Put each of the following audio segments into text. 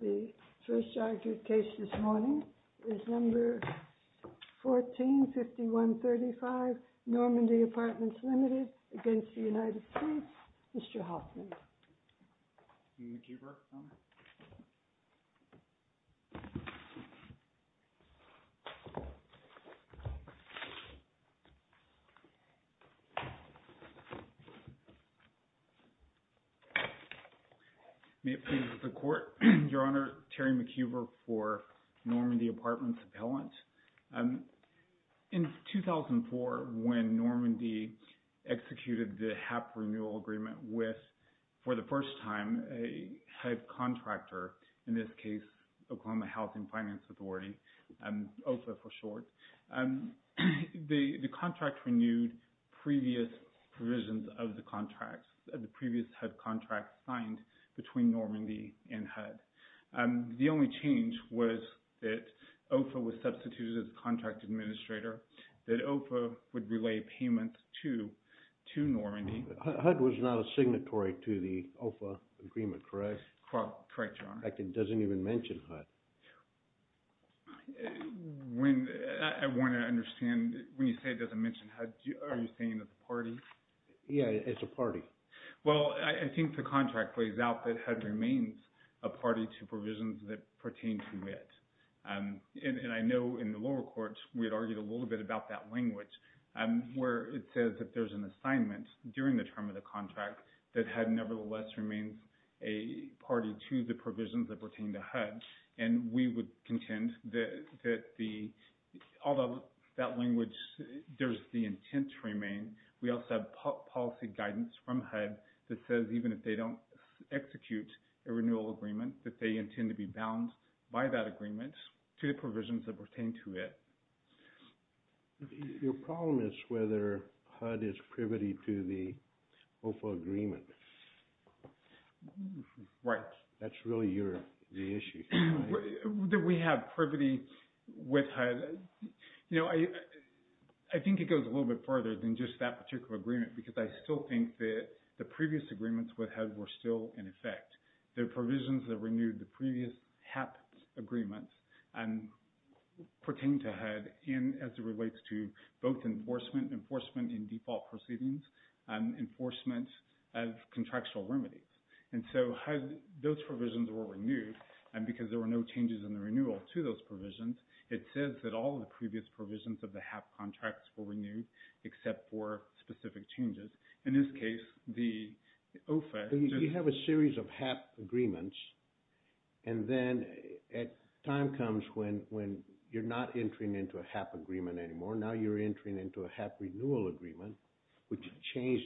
The first argued case this morning is No. 14-5135 Normandy Apartments, Limited v. United States. Mr. Hoffman. May it please the Court, Your Honor, Terry McHoover for Normandy Apartments Appellant. In 2004, when Normandy executed the HAP renewal agreement with, for the first time, a HUD contractor, in this case Oklahoma Housing Finance Authority, OFHA for short, the contract renewed previous provisions of the contracts, the previous HUD contracts signed between Normandy and HUD. The only change was that OFHA was substituted as a contract administrator, that OFHA would relay payments to Normandy. HUD was not a signatory to the OFHA agreement, correct? Correct, Your Honor. In fact, it doesn't even mention HUD. When, I want to understand, when you say it doesn't mention HUD, are you saying it's a party? Yeah, it's a party. Well, I think the contract lays out that HUD remains a party to provisions that pertain to it. And I know in the lower courts, we had argued a little bit about that language, where it says that there's an assignment during the term of the contract that HUD nevertheless remains a party to the provisions that pertain to HUD. And we would contend that the, although that language, there's the intent to remain, we also have policy guidance from HUD that says even if they don't execute a renewal agreement that they intend to be bound by that agreement to the provisions that pertain to it. Your problem is whether HUD is privity to the OFHA agreement. Right. That's really your, the issue. Do we have privity with HUD? You know, I think it goes a little bit further than just that particular agreement because I still think that the previous agreements with HUD were still in effect. The provisions that renewed the previous HAP agreements pertain to HUD and as it relates to both enforcement, enforcement in default proceedings, enforcement of contractual remedies. And so those provisions were renewed because there were no changes in the renewal to those provisions. It says that all of the previous provisions of the HAP contracts were renewed except for specific changes. In this case, the OFHA. You have a series of HAP agreements and then a time comes when you're not entering into a HAP agreement anymore. Now you're entering into a HAP renewal agreement which changed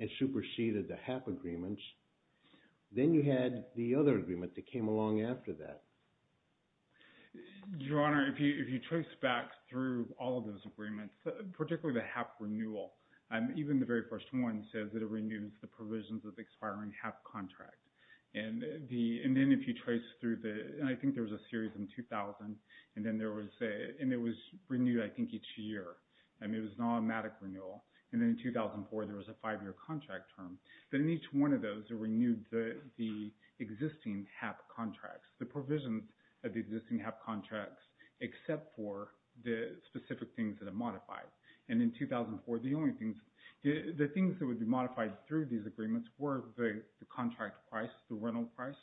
and superseded the HAP agreements. Then you had the other agreement that came along after that. Your Honor, if you trace back through all of those agreements, particularly the HAP renewal, even the very first one says that it renews the provisions of the expiring HAP contract. And then if you trace through the, I think there was a series in 2000 and then there was, and it was renewed I think each year. I mean, it was an automatic renewal. And then in 2004, there was a five-year contract term. But in each one of those, it renewed the existing HAP contracts, the provisions of the existing HAP contracts except for the specific things that are modified. And in 2004, the only things, the things that would be modified through these agreements were the contract price, the rental price,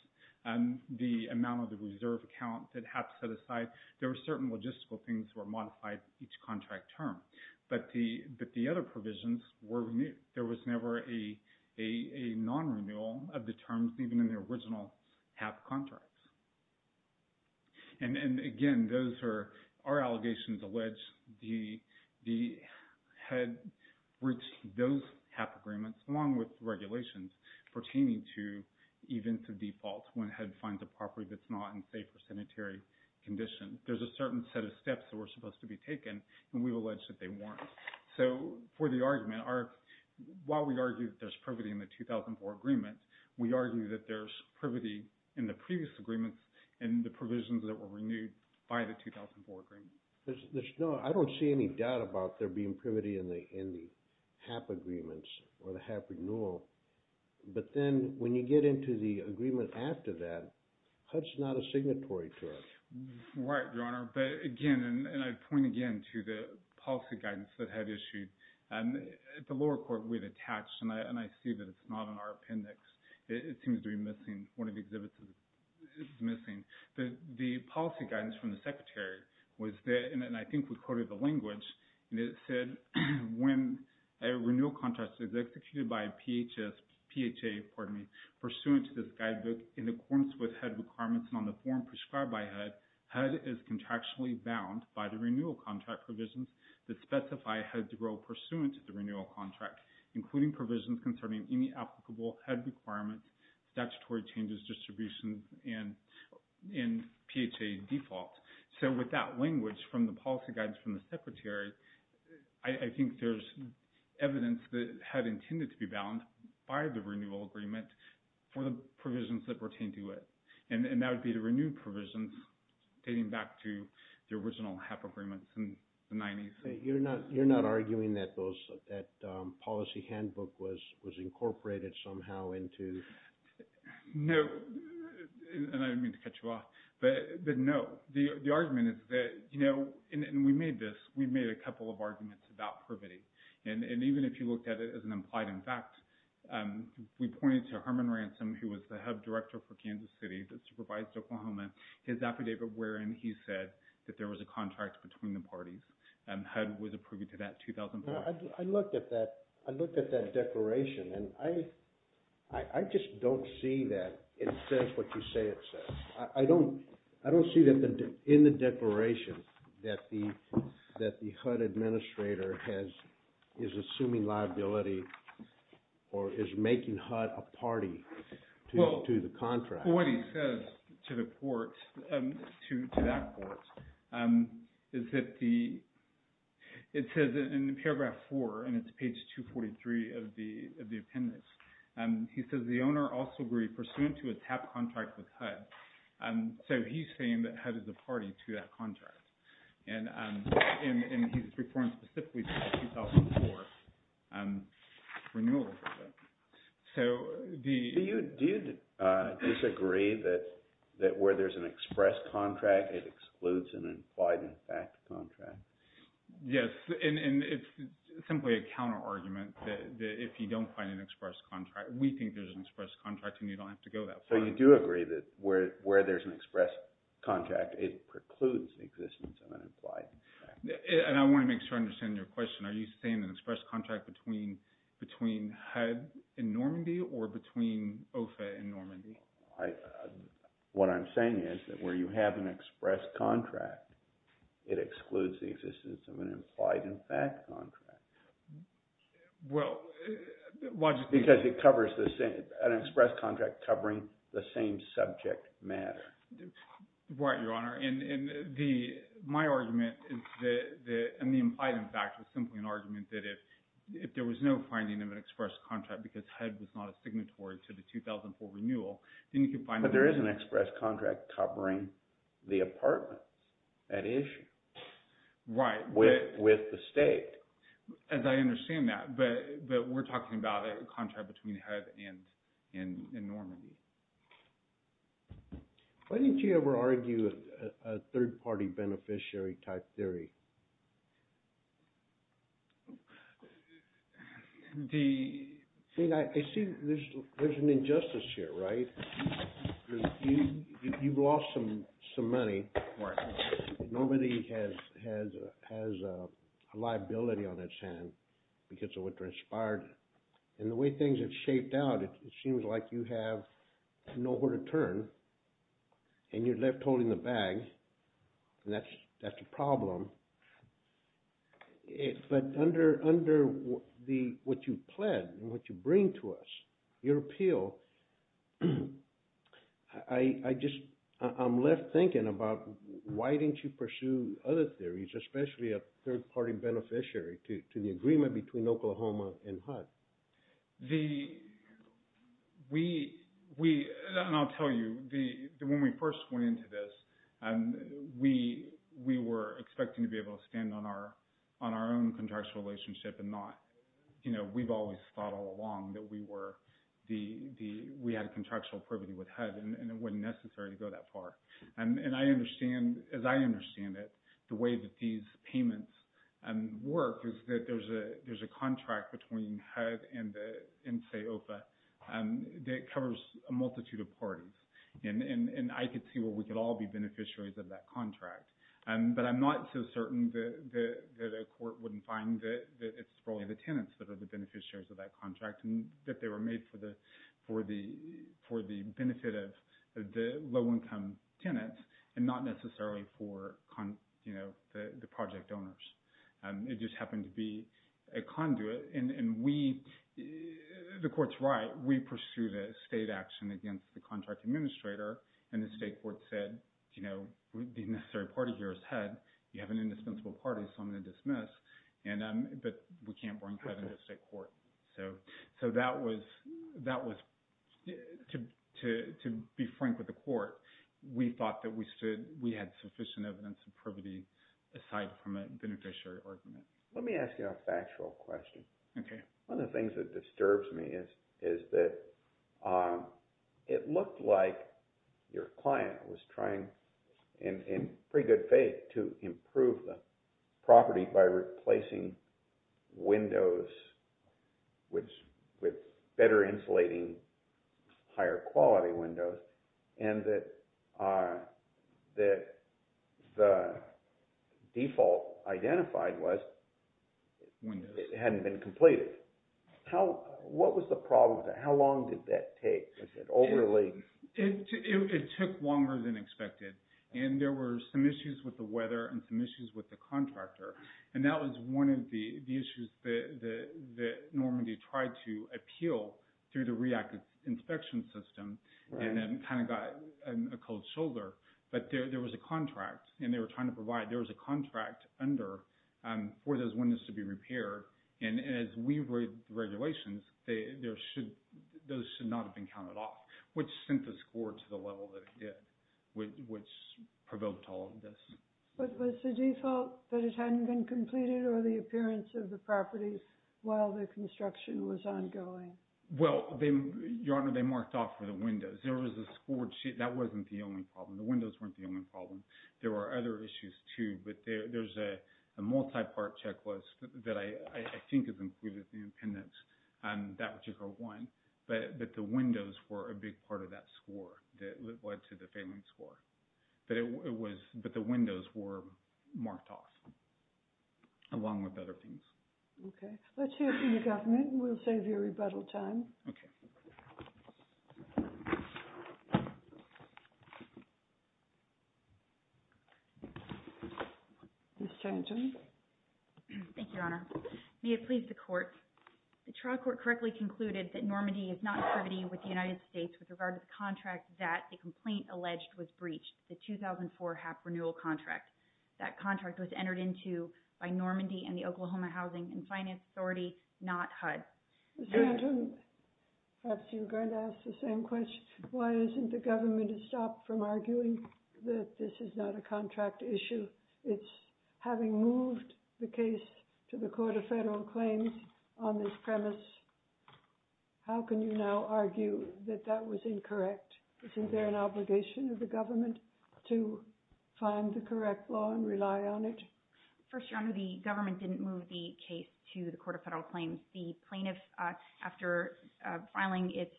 and the amount of the reserve account that HAP set aside. There were certain logistical things that were modified each contract term. But the other provisions were renewed. There was never a non-renewal of the terms even in the original HAP contracts. And again, those are, our allegations allege the HED reached those HAP agreements along with regulations pertaining to events of default when HED finds a property that's not in safe or sanitary condition. There's a certain set of steps that were supposed to be taken, and we've alleged that they weren't. So for the argument, while we argue that there's privity in the 2004 agreement, we argue that there's privity in the previous agreements and the provisions that were renewed by the 2004 agreement. I don't see any doubt about there being privity in the HAP agreements or the HAP renewal. But then when you get into the agreement after that, HUD's not a signatory to it. Right, Your Honor. But again, and I'd point again to the policy guidance that HUD issued. At the lower court, we had attached, and I see that it's not in our appendix. It seems to be missing. One of the exhibits is missing. The policy guidance from the Secretary was that, and I think we quoted the language, and it said, when a renewal contract is executed by a PHA pursuant to this guidebook in accordance with HUD requirements and on the form prescribed by HUD, HUD is contractually bound by the renewal contract provisions that specify HUD's role pursuant to the renewal contract, including provisions concerning any applicable HUD requirements, statutory changes, distributions, and PHA default. So with that language from the policy guidance from the Secretary, I think there's evidence that HUD intended to be bound by the renewal agreement for the provisions that pertain to it. And that would be the renewed provisions dating back to the original HAP agreements in the 90s. You're not arguing that those, that policy handbook was incorporated somehow into? No, and I didn't mean to cut you off. But no, the argument is that, you know, and we made this, we made a couple of arguments about privity. And even if you looked at it as an implied in fact, we pointed to Herman Ransom, who was the HUD director for Kansas City that supervised Oklahoma, his affidavit wherein he said that there was a contract between the parties, and HUD was approving to that in 2004. I looked at that, I looked at that declaration, and I just don't see that it says what you say it says. I don't, I don't see that in the declaration that the HUD administrator has, is assuming liability or is making HUD a party to the contract. Well, what he says to the court, to that court, is that the, it says in paragraph 4, and it's page 243 of the appendix, he says the owner also agreed pursuant to a TAP contract with HUD. So he's saying that HUD is a party to that contract. And he's referring specifically to the 2004 renewal agreement. Do you disagree that where there's an express contract, it excludes an implied in fact contract? Yes, and it's simply a counter argument that if you don't find an express contract, we think there's an express contract and you don't have to go that far. So you do agree that where there's an express contract, it precludes the existence of an implied in fact contract? And I want to make sure I understand your question. Are you saying an express contract between HUD and Normandy or between OFA and Normandy? What I'm saying is that where you have an express contract, it excludes the existence of an implied in fact contract. Well, why do you think? Because it covers the same, an express contract covering the same subject matter. Right, Your Honor. And the, my argument is that, and the implied in fact is simply an argument that if there was no finding of an express contract because HUD was not a signatory to the 2004 renewal, then you can find... But there is an express contract covering the apartments, that issue. Right. With the state. As I understand that, but we're talking about a contract between HUD and Normandy. Why didn't you ever argue a third party beneficiary type theory? The... See, there's an injustice here, right? You've lost some money. Right. Normandy has a liability on its hand because of what transpired. And the way things have shaped out, it seems like you have nowhere to turn. And you're left holding the bag. And that's a problem. But under what you pled and what you bring to us, your appeal, I just, I'm left thinking about why didn't you pursue other theories, especially a third party beneficiary to the agreement between Oklahoma and HUD? The... We... And I'll tell you, when we first went into this, we were expecting to be able to stand on our own contractual relationship and not... You know, we've always thought all along that we were the... We had a contractual privity with HUD and it wasn't necessary to go that far. And I understand, as I understand it, the way that these payments work is that there's a contract between HUD and the NSEOFA that covers a multitude of parties. And I could see where we could all be beneficiaries of that contract. But I'm not so certain that a court wouldn't find that it's really the tenants that are the beneficiaries of that contract, and that they were made for the benefit of the low-income tenants and not necessarily for the project owners. It just happened to be a conduit. And we... The court's right. We pursued a state action against the contract administrator, and the state court said, you know, the necessary party here is HUD. You have an indispensable party, so I'm going to dismiss. But we can't bring HUD into the state court. So that was... To be frank with the court, we thought that we had sufficient evidence of privity aside from a beneficiary argument. Let me ask you a factual question. Okay. One of the things that disturbs me is that it looked like your client was trying, in pretty good faith, to improve the property by replacing windows with better insulating, higher-quality windows, and that the default identified was it hadn't been completed. What was the problem with that? How long did that take? Was it overly... It took longer than expected. And there were some issues with the weather and some issues with the contractor, and that was one of the issues that Normandy tried to appeal through the REACT inspection system, and then kind of got a cold shoulder. But there was a contract, and they were trying to provide... There was a contract under for those windows to be repaired. And as we read the regulations, those should not have been counted off, which sent the score to the level that it did, which provoked all of this. But was the default that it hadn't been completed or the appearance of the property while the construction was ongoing? Well, Your Honor, they marked off for the windows. There was a score sheet. That wasn't the only problem. The windows weren't the only problem. There were other issues too, but there's a multi-part checklist that I think has included the impendence, that particular one. But the windows were a big part of that score that led to the failing score. But it was... But the windows were marked off along with other things. Okay. Let's hear from the government. We'll save you rebuttal time. Okay. Ms. Chanton. Thank you, Your Honor. May it please the Court. The trial court correctly concluded that Normandy is not privity with the United States with regard to the contract that the complaint alleged was breached, the 2004 HAP renewal contract. That contract was entered into by Normandy and the Oklahoma Housing and Finance Authority, not HUD. Ms. Chanton, perhaps you're going to ask the same question. Why hasn't the government stopped from arguing that this is not a contract issue? It's having moved the case to the Court of Federal Claims on this premise. How can you now argue that that was incorrect? Isn't there an obligation of the government to find the correct law and rely on it? First, Your Honor, the government didn't move the case to the Court of Federal Claims. The plaintiff, after filing its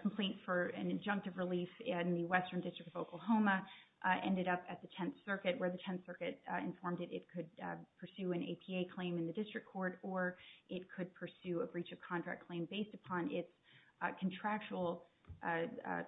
complaint for an injunctive relief in the Western District of Oklahoma, ended up at the Tenth Circuit, where the Tenth Circuit informed it it could pursue an APA claim in the district court or it could pursue a breach of contract claim based upon its contractual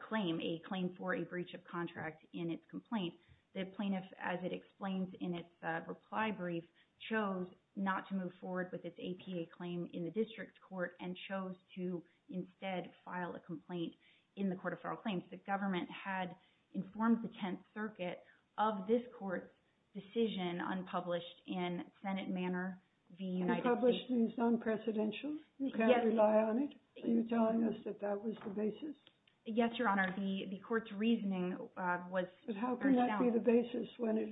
claim, a claim for a breach of contract in its complaint. The plaintiff, as it explains in its reply brief, chose not to move forward with its APA claim in the district court and chose to instead file a complaint in the Court of Federal Claims. The government had informed the Tenth Circuit of this court's decision unpublished in Senate Manner v. United States. Unpublished means non-presidential? Yes. You can't rely on it? Are you telling us that that was the basis? Yes, Your Honor. The court's reasoning was first down. But how can that be the basis when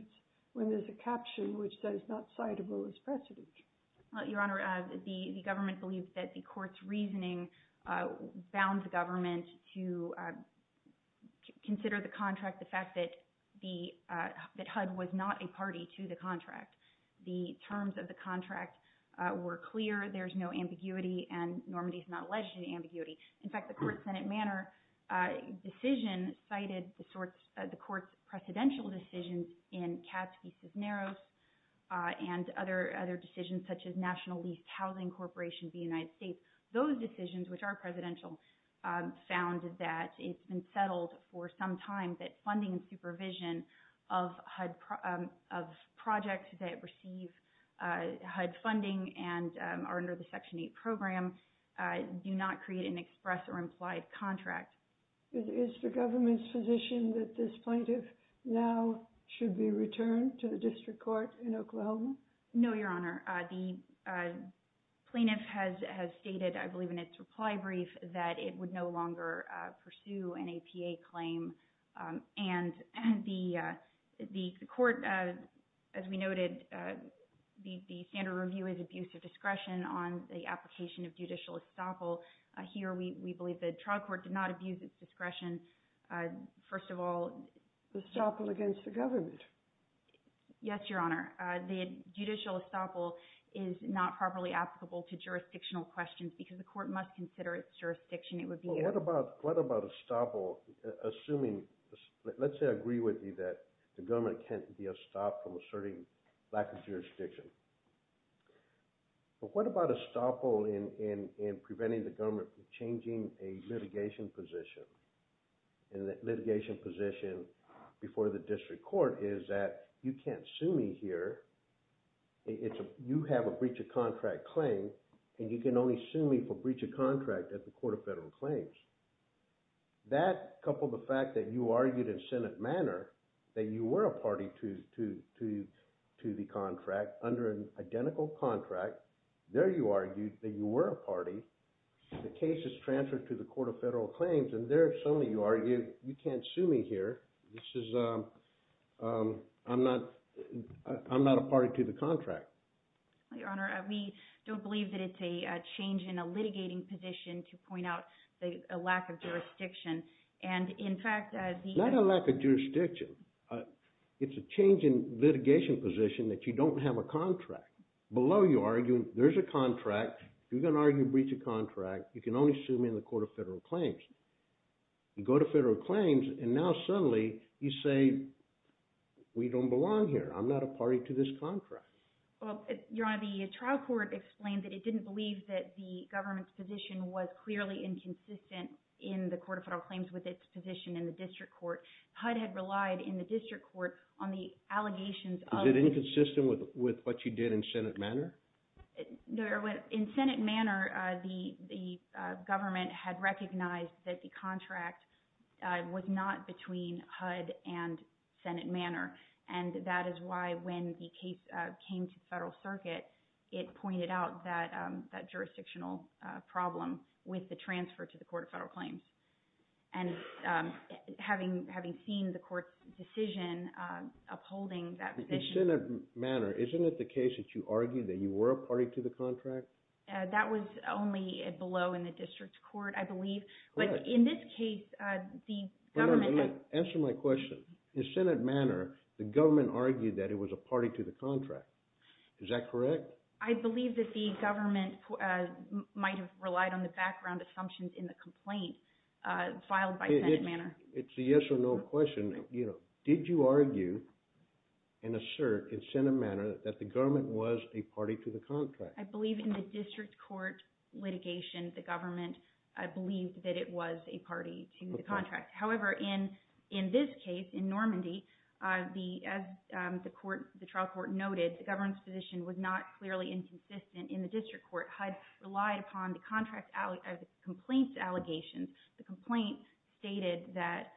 there's a caption which says not citable as precedent? Your Honor, the government believes that the court's reasoning bound the government to consider the contract, the fact that HUD was not a party to the contract. The terms of the contract were clear. There's no ambiguity, and Normandy is not alleged to be ambiguity. In fact, the court's Senate Manner decision cited the court's precedential decisions in Katz v. Cisneros and other decisions such as National Leased Housing Corporation v. United States. Those decisions, which are presidential, found that it's been settled for some time that funding and supervision of projects that receive HUD funding and are under the Section 8 program do not create an express or implied contract. Is the government's position that this plaintiff now should be returned to the district court in Oklahoma? No, Your Honor. The plaintiff has stated, I believe in its reply brief, that it would no longer pursue an APA claim. And the court, as we noted, the standard review is abuse of discretion on the application of judicial estoppel. Here, we believe the trial court did not abuse its discretion. First of all, Estoppel against the government? Yes, Your Honor. The judicial estoppel is not properly applicable to jurisdictional questions because the court must consider its jurisdiction. What about estoppel, assuming, let's say I agree with you that the government can't be estopped from asserting lack of jurisdiction. But what about estoppel in preventing the government from changing a litigation position? And that litigation position before the district court is that you can't sue me here. You have a breach of contract claim, and you can only sue me for breach of contract at the Court of Federal Claims. That, coupled with the fact that you argued in Senate manner that you were a party to the contract under an identical contract, there you argued that you were a party. The case is transferred to the Court of Federal Claims, and there, suddenly, you argue you can't sue me here. This is, I'm not a party to the contract. Your Honor, we don't believe that it's a change in a litigating position to point out a lack of jurisdiction. And, in fact, the – Not a lack of jurisdiction. It's a change in litigation position that you don't have a contract. Below you argue there's a contract. You're going to argue breach of contract. You can only sue me in the Court of Federal Claims. You go to Federal Claims, and now, suddenly, you say we don't belong here. I'm not a party to this contract. Well, Your Honor, the trial court explained that it didn't believe that the government's position was clearly inconsistent in the Court of Federal Claims with its position in the district court. HUD had relied in the district court on the allegations of – Was it inconsistent with what you did in Senate manner? In Senate manner, the government had recognized that the contract was not between HUD and Senate manner. And that is why when the case came to the Federal Circuit, it pointed out that jurisdictional problem with the transfer to the Court of Federal Claims. And having seen the court's decision upholding that position – In Senate manner, isn't it the case that you argued that you were a party to the contract? That was only below in the district court, I believe. But in this case, the government – The government argued that it was a party to the contract. Is that correct? I believe that the government might have relied on the background assumptions in the complaint filed by Senate manner. It's a yes or no question. Did you argue and assert in Senate manner that the government was a party to the contract? I believe in the district court litigation, the government believed that it was a party to the contract. However, in this case, in Normandy, as the trial court noted, the government's position was not clearly inconsistent in the district court. HUD relied upon the complaint's allegations. The complaint stated that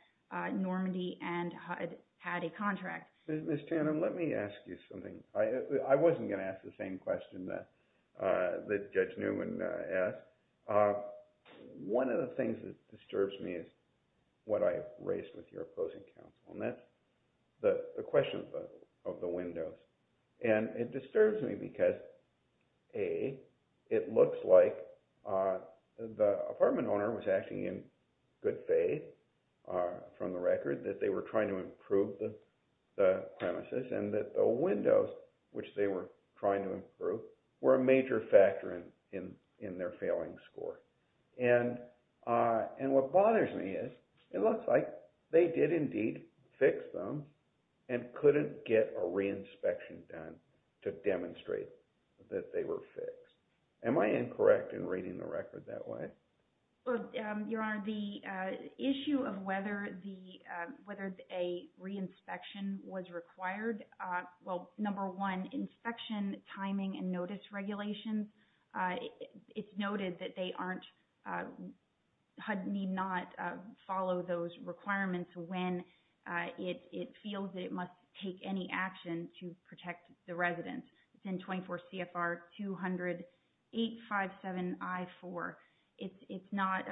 Normandy and HUD had a contract. Ms. Tannen, let me ask you something. I wasn't going to ask the same question that Judge Newman asked. One of the things that disturbs me is what I have raised with your opposing counsel, and that's the question of the windows. And it disturbs me because, A, it looks like the apartment owner was acting in good faith from the record that they were trying to improve the premises and that the windows, which they were trying to improve, were a major factor in their failing score. And what bothers me is it looks like they did indeed fix them and couldn't get a reinspection done to demonstrate that they were fixed. Am I incorrect in reading the record that way? Your Honor, the issue of whether a reinspection was required, well, number one, inspection timing and notice regulations, it's noted that HUD need not follow those requirements when it feels it must take any action to protect the residents. It's in 24 CFR 20857I4. It's not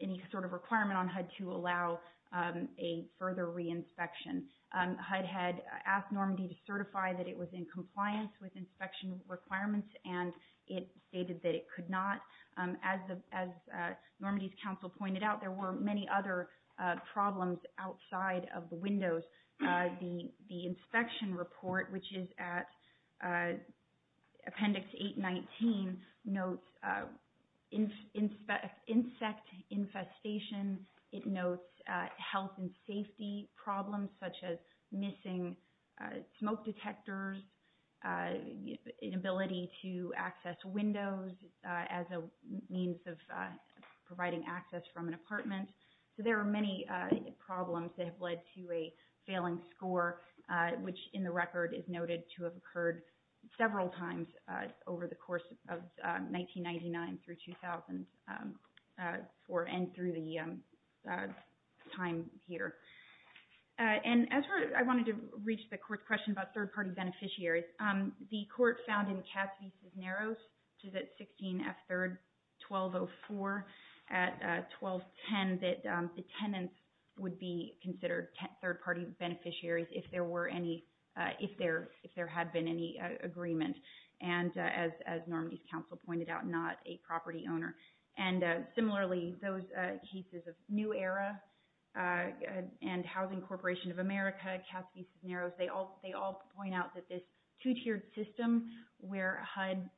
any sort of requirement on HUD to allow a further reinspection. HUD had asked Normandy to certify that it was in compliance with inspection requirements, and it stated that it could not. As Normandy's counsel pointed out, there were many other problems outside of the windows. The inspection report, which is at Appendix 819, notes insect infestation. It notes health and safety problems such as missing smoke detectors, inability to access windows as a means of providing access from an apartment. So there are many problems that have led to a failing score, which in the record is noted to have occurred several times over the course of 1999 through 2000 and through the time here. And I wanted to reach the court's question about third-party beneficiaries. The court found in Cassavetes Narrows, which is at 16F3-1204 at 1210, that the tenants would be considered third-party beneficiaries if there were any, if there had been any agreement. And as Normandy's counsel pointed out, not a property owner. And similarly, those cases of New Era and Housing Corporation of America, Cassavetes Narrows, they all point out that this two-tiered system where HUD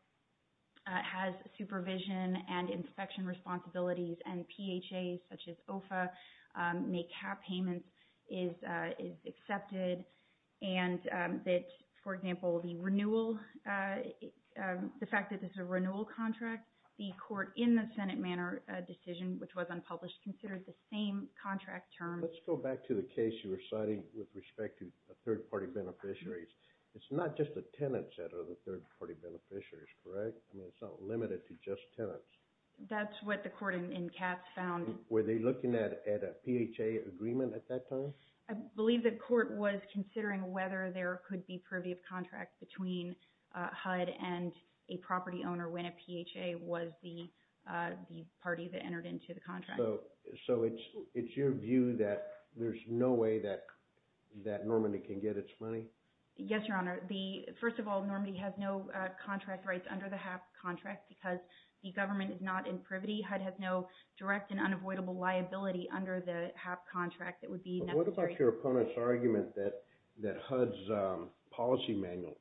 has supervision and inspection responsibilities and PHAs such as OFA make cap payments is accepted. And that, for example, the renewal, the fact that this is a renewal contract, the court in the Senate Manor decision, which was unpublished, considered the same contract term. Let's go back to the case you were citing with respect to third-party beneficiaries. It's not just the tenants that are the third-party beneficiaries, correct? I mean, it's not limited to just tenants. That's what the court in Cass found. Were they looking at a PHA agreement at that time? I believe the court was considering whether there could be privy of contract between HUD and a property owner when a PHA was the party that entered into the contract. So it's your view that there's no way that Normandy can get its money? Yes, Your Honor. First of all, Normandy has no contract rights under the HAP contract because the government is not in privity. HUD has no direct and unavoidable liability under the HAP contract that would be necessary. What about your opponent's argument that HUD's policy manual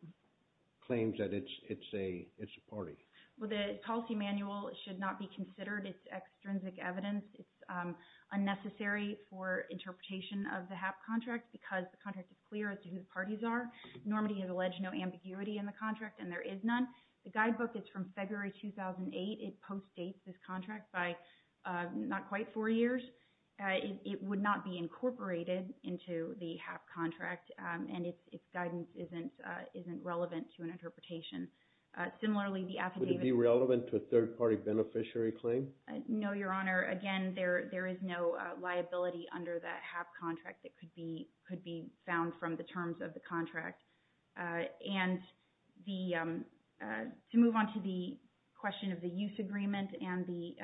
claims that it's a party? Well, the policy manual should not be considered. It's extrinsic evidence. It's unnecessary for interpretation of the HAP contract because the contract is clear as to who the parties are. Normandy has alleged no ambiguity in the contract, and there is none. The guidebook is from February 2008. It postdates this contract by not quite four years. It would not be incorporated into the HAP contract, and its guidance isn't relevant to an interpretation. Similarly, the affidavit… Would it be relevant to a third-party beneficiary claim? No, Your Honor. Again, there is no liability under that HAP contract that could be found from the terms of the contract. And to move on to the question of the use agreement and the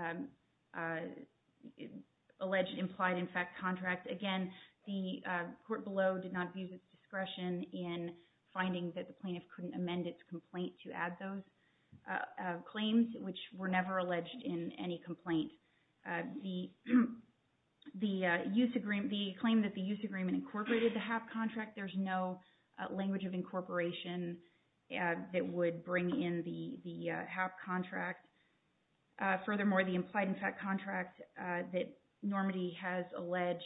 alleged implied-in-effect contract, again, the court below did not abuse its discretion in finding that the plaintiff couldn't amend its complaint to add those claims, which were never alleged in any complaint. The claim that the use agreement incorporated the HAP contract, there's no language of incorporation that would bring in the HAP contract. Furthermore, the implied-in-effect contract that Normandy has alleged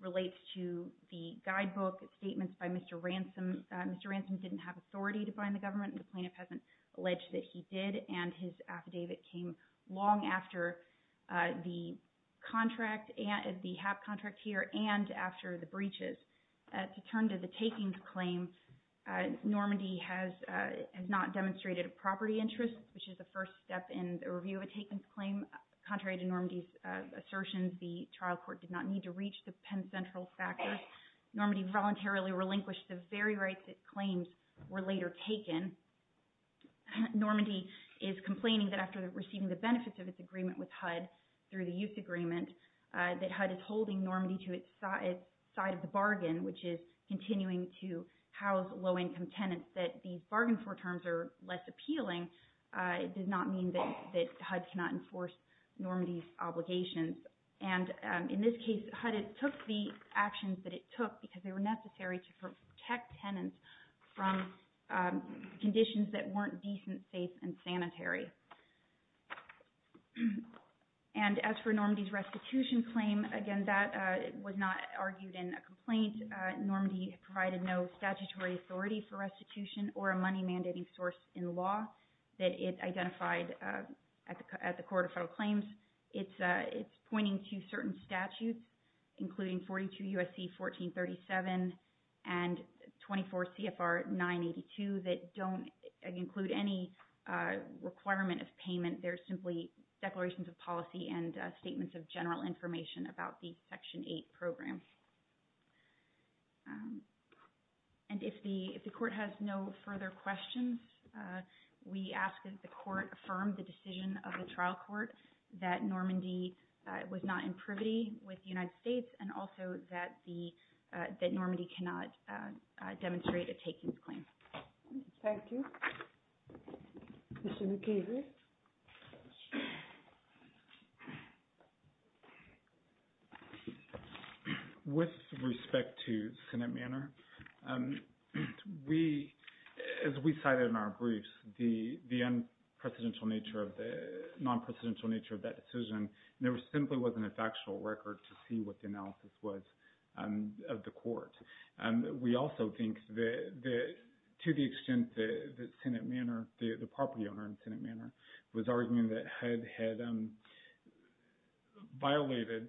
relates to the guidebook statements by Mr. Ransom. Mr. Ransom didn't have authority to bind the government, and the plaintiff hasn't alleged that he did, and his affidavit came long after the HAP contract here and after the breaches. To turn to the takings claim, Normandy has not demonstrated a property interest, which is the first step in the review of a takings claim. Contrary to Normandy's assertions, the trial court did not need to reach the Penn Central factors. Normandy voluntarily relinquished the very rights that claims were later taken. Normandy is complaining that after receiving the benefits of its agreement with HUD through the use agreement, that HUD is holding Normandy to its side of the bargain, which is continuing to house low-income tenants that these bargain-for terms are less appealing. It does not mean that HUD cannot enforce Normandy's obligations. In this case, HUD took the actions that it took because they were necessary to protect tenants from conditions that weren't decent, safe, and sanitary. As for Normandy's restitution claim, again, that was not argued in a complaint. Normandy provided no statutory authority for restitution or a money-mandating source in law that it identified at the Court of Federal Claims. It's pointing to certain statutes, including 42 U.S.C. 1437 and 24 CFR 982, that don't include any requirement of payment. They're simply declarations of policy and statements of general information about the Section 8 program. And if the Court has no further questions, we ask that the Court affirm the decision of the trial court that Normandy was not in privity with the United States and also that Normandy cannot demonstrate a takings claim. Thank you. Mr. McKeevy? With respect to Senate Manor, as we cited in our briefs, the non-presidential nature of that decision simply wasn't a factual record to see what the analysis was of the Court. We also think that to the extent that the property owner in Senate Manor was arguing that HUD had violated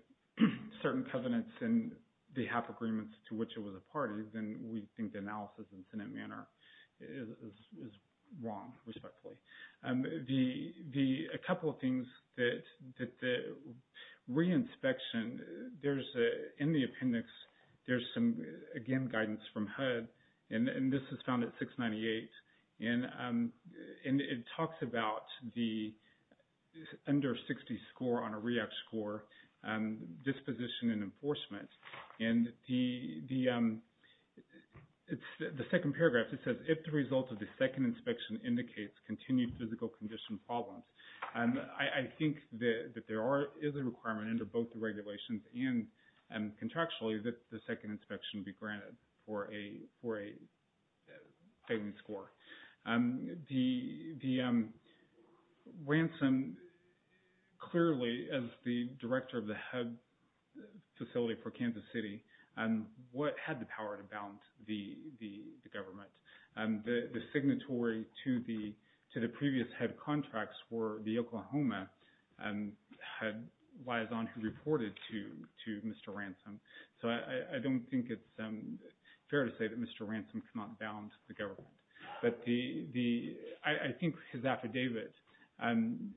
certain covenants and the half agreements to which it was a party, then we think the analysis in Senate Manor is wrong, respectfully. A couple of things that the re-inspection, in the appendix, there's some, again, guidance from HUD, and this is found at 698, and it talks about the under 60 score on a REAC score disposition and enforcement. And the second paragraph, it says, if the result of the second inspection indicates continued physical condition problems, I think that there is a requirement under both the regulations and contractually that the second inspection be granted for a failing score. The ransom, clearly, as the director of the HUD facility for Kansas City, had the power to bound the government. The signatory to the previous HUD contracts were the Oklahoma, had liaison who reported to Mr. Ransom. So I don't think it's fair to say that Mr. Ransom cannot bound the government. But I think his affidavit, and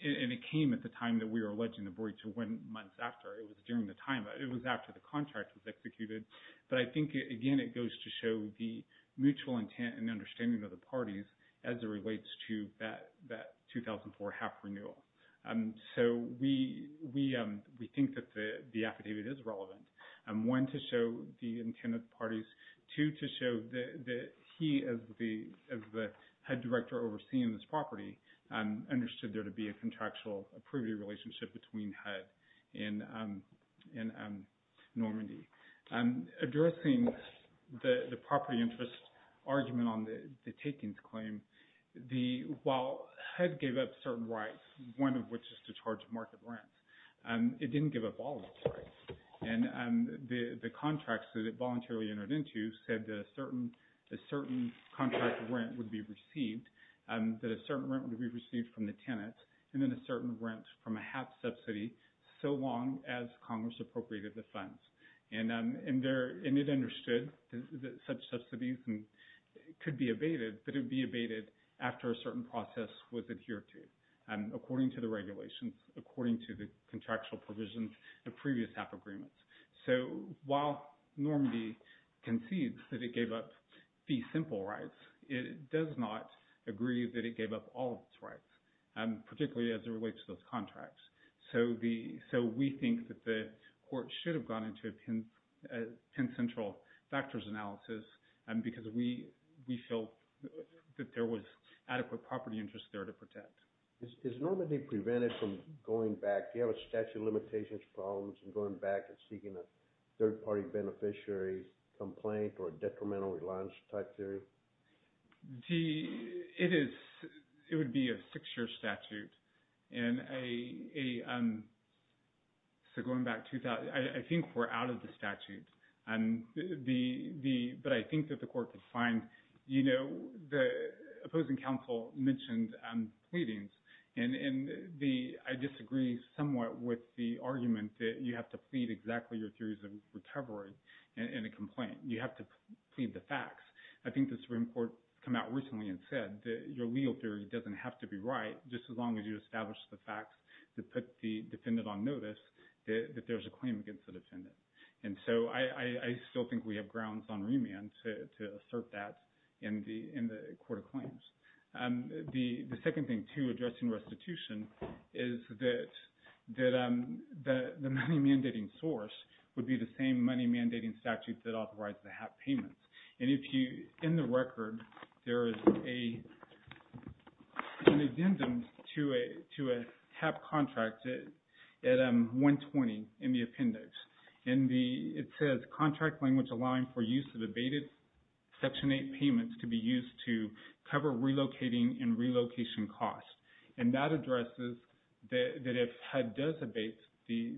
it came at the time that we were alleging the breach, or months after, it was during the time, it was after the contract was executed. But I think, again, it goes to show the mutual intent and understanding of the parties as it relates to that 2004 half renewal. So we think that the affidavit is relevant, one, to show the intent of the parties, two, to show that he, as the HUD director overseeing this property, understood there to be a contractual approval relationship between HUD and Normandy. Addressing the property interest argument on the takings claim, while HUD gave up certain rights, one of which is to charge market rents, it didn't give up all of its rights. And the contracts that it voluntarily entered into said that a certain contract rent would be received, that a certain rent would be received from the tenant, and then a certain rent from a half subsidy, so long as Congress appropriated the funds. And it understood that such subsidies could be abated, but it would be abated after a certain process was adhered to. According to the regulations, according to the contractual provisions of previous half agreements. So while Normandy concedes that it gave up the simple rights, it does not agree that it gave up all of its rights, particularly as it relates to those contracts. So we think that the court should have gone into a pen-central factors analysis because we felt that there was adequate property interest there to protect. Is Normandy prevented from going back? Do you have a statute of limitations, problems in going back and seeking a third-party beneficiary complaint or a detrimental reliance type theory? It would be a six-year statute. And so going back to that, I think we're out of the statute. But I think that the court could find, you know, the opposing counsel mentioned pleadings, and I disagree somewhat with the argument that you have to plead exactly your theories of recovery in a complaint. You have to plead the facts. I think this report came out recently and said that your legal theory doesn't have to be right, just as long as you establish the facts that put the defendant on notice that there's a claim against the defendant. And so I still think we have grounds on remand to assert that in the court of claims. The second thing, too, addressing restitution is that the money-mandating source would be the same money-mandating statute that authorized the HAP payments. And if you – in the record, there is an addendum to a HAP contract at 120 in the appendix. And it says, contract language allowing for use of abated Section 8 payments to be used to cover relocating and relocation costs. And that addresses that if HUD does abate the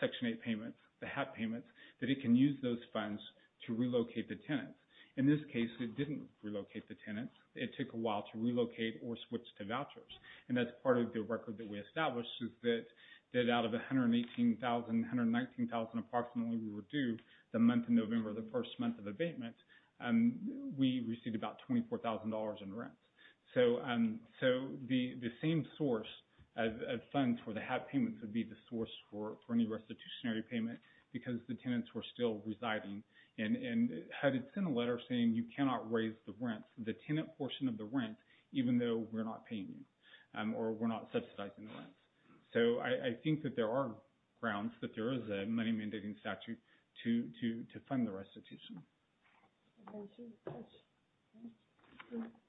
Section 8 payments, the HAP payments, that it can use those funds to relocate the tenants. In this case, it didn't relocate the tenants. It took a while to relocate or switch to vouchers. And that's part of the record that we established is that out of 118,000, 119,000 approximately we were due the month of November, the first month of abatement, we received about $24,000 in rents. So the same source of funds for the HAP payments would be the source for any restitutionary payment because the tenants were still residing. And HUD had sent a letter saying you cannot raise the rent, the tenant portion of the rent, even though we're not paying you or we're not subsidizing the rent. So I think that there are grounds that there is a money-mandating statute to fund the restitution.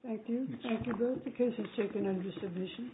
Thank you. Thank you both. The case is taken under submission.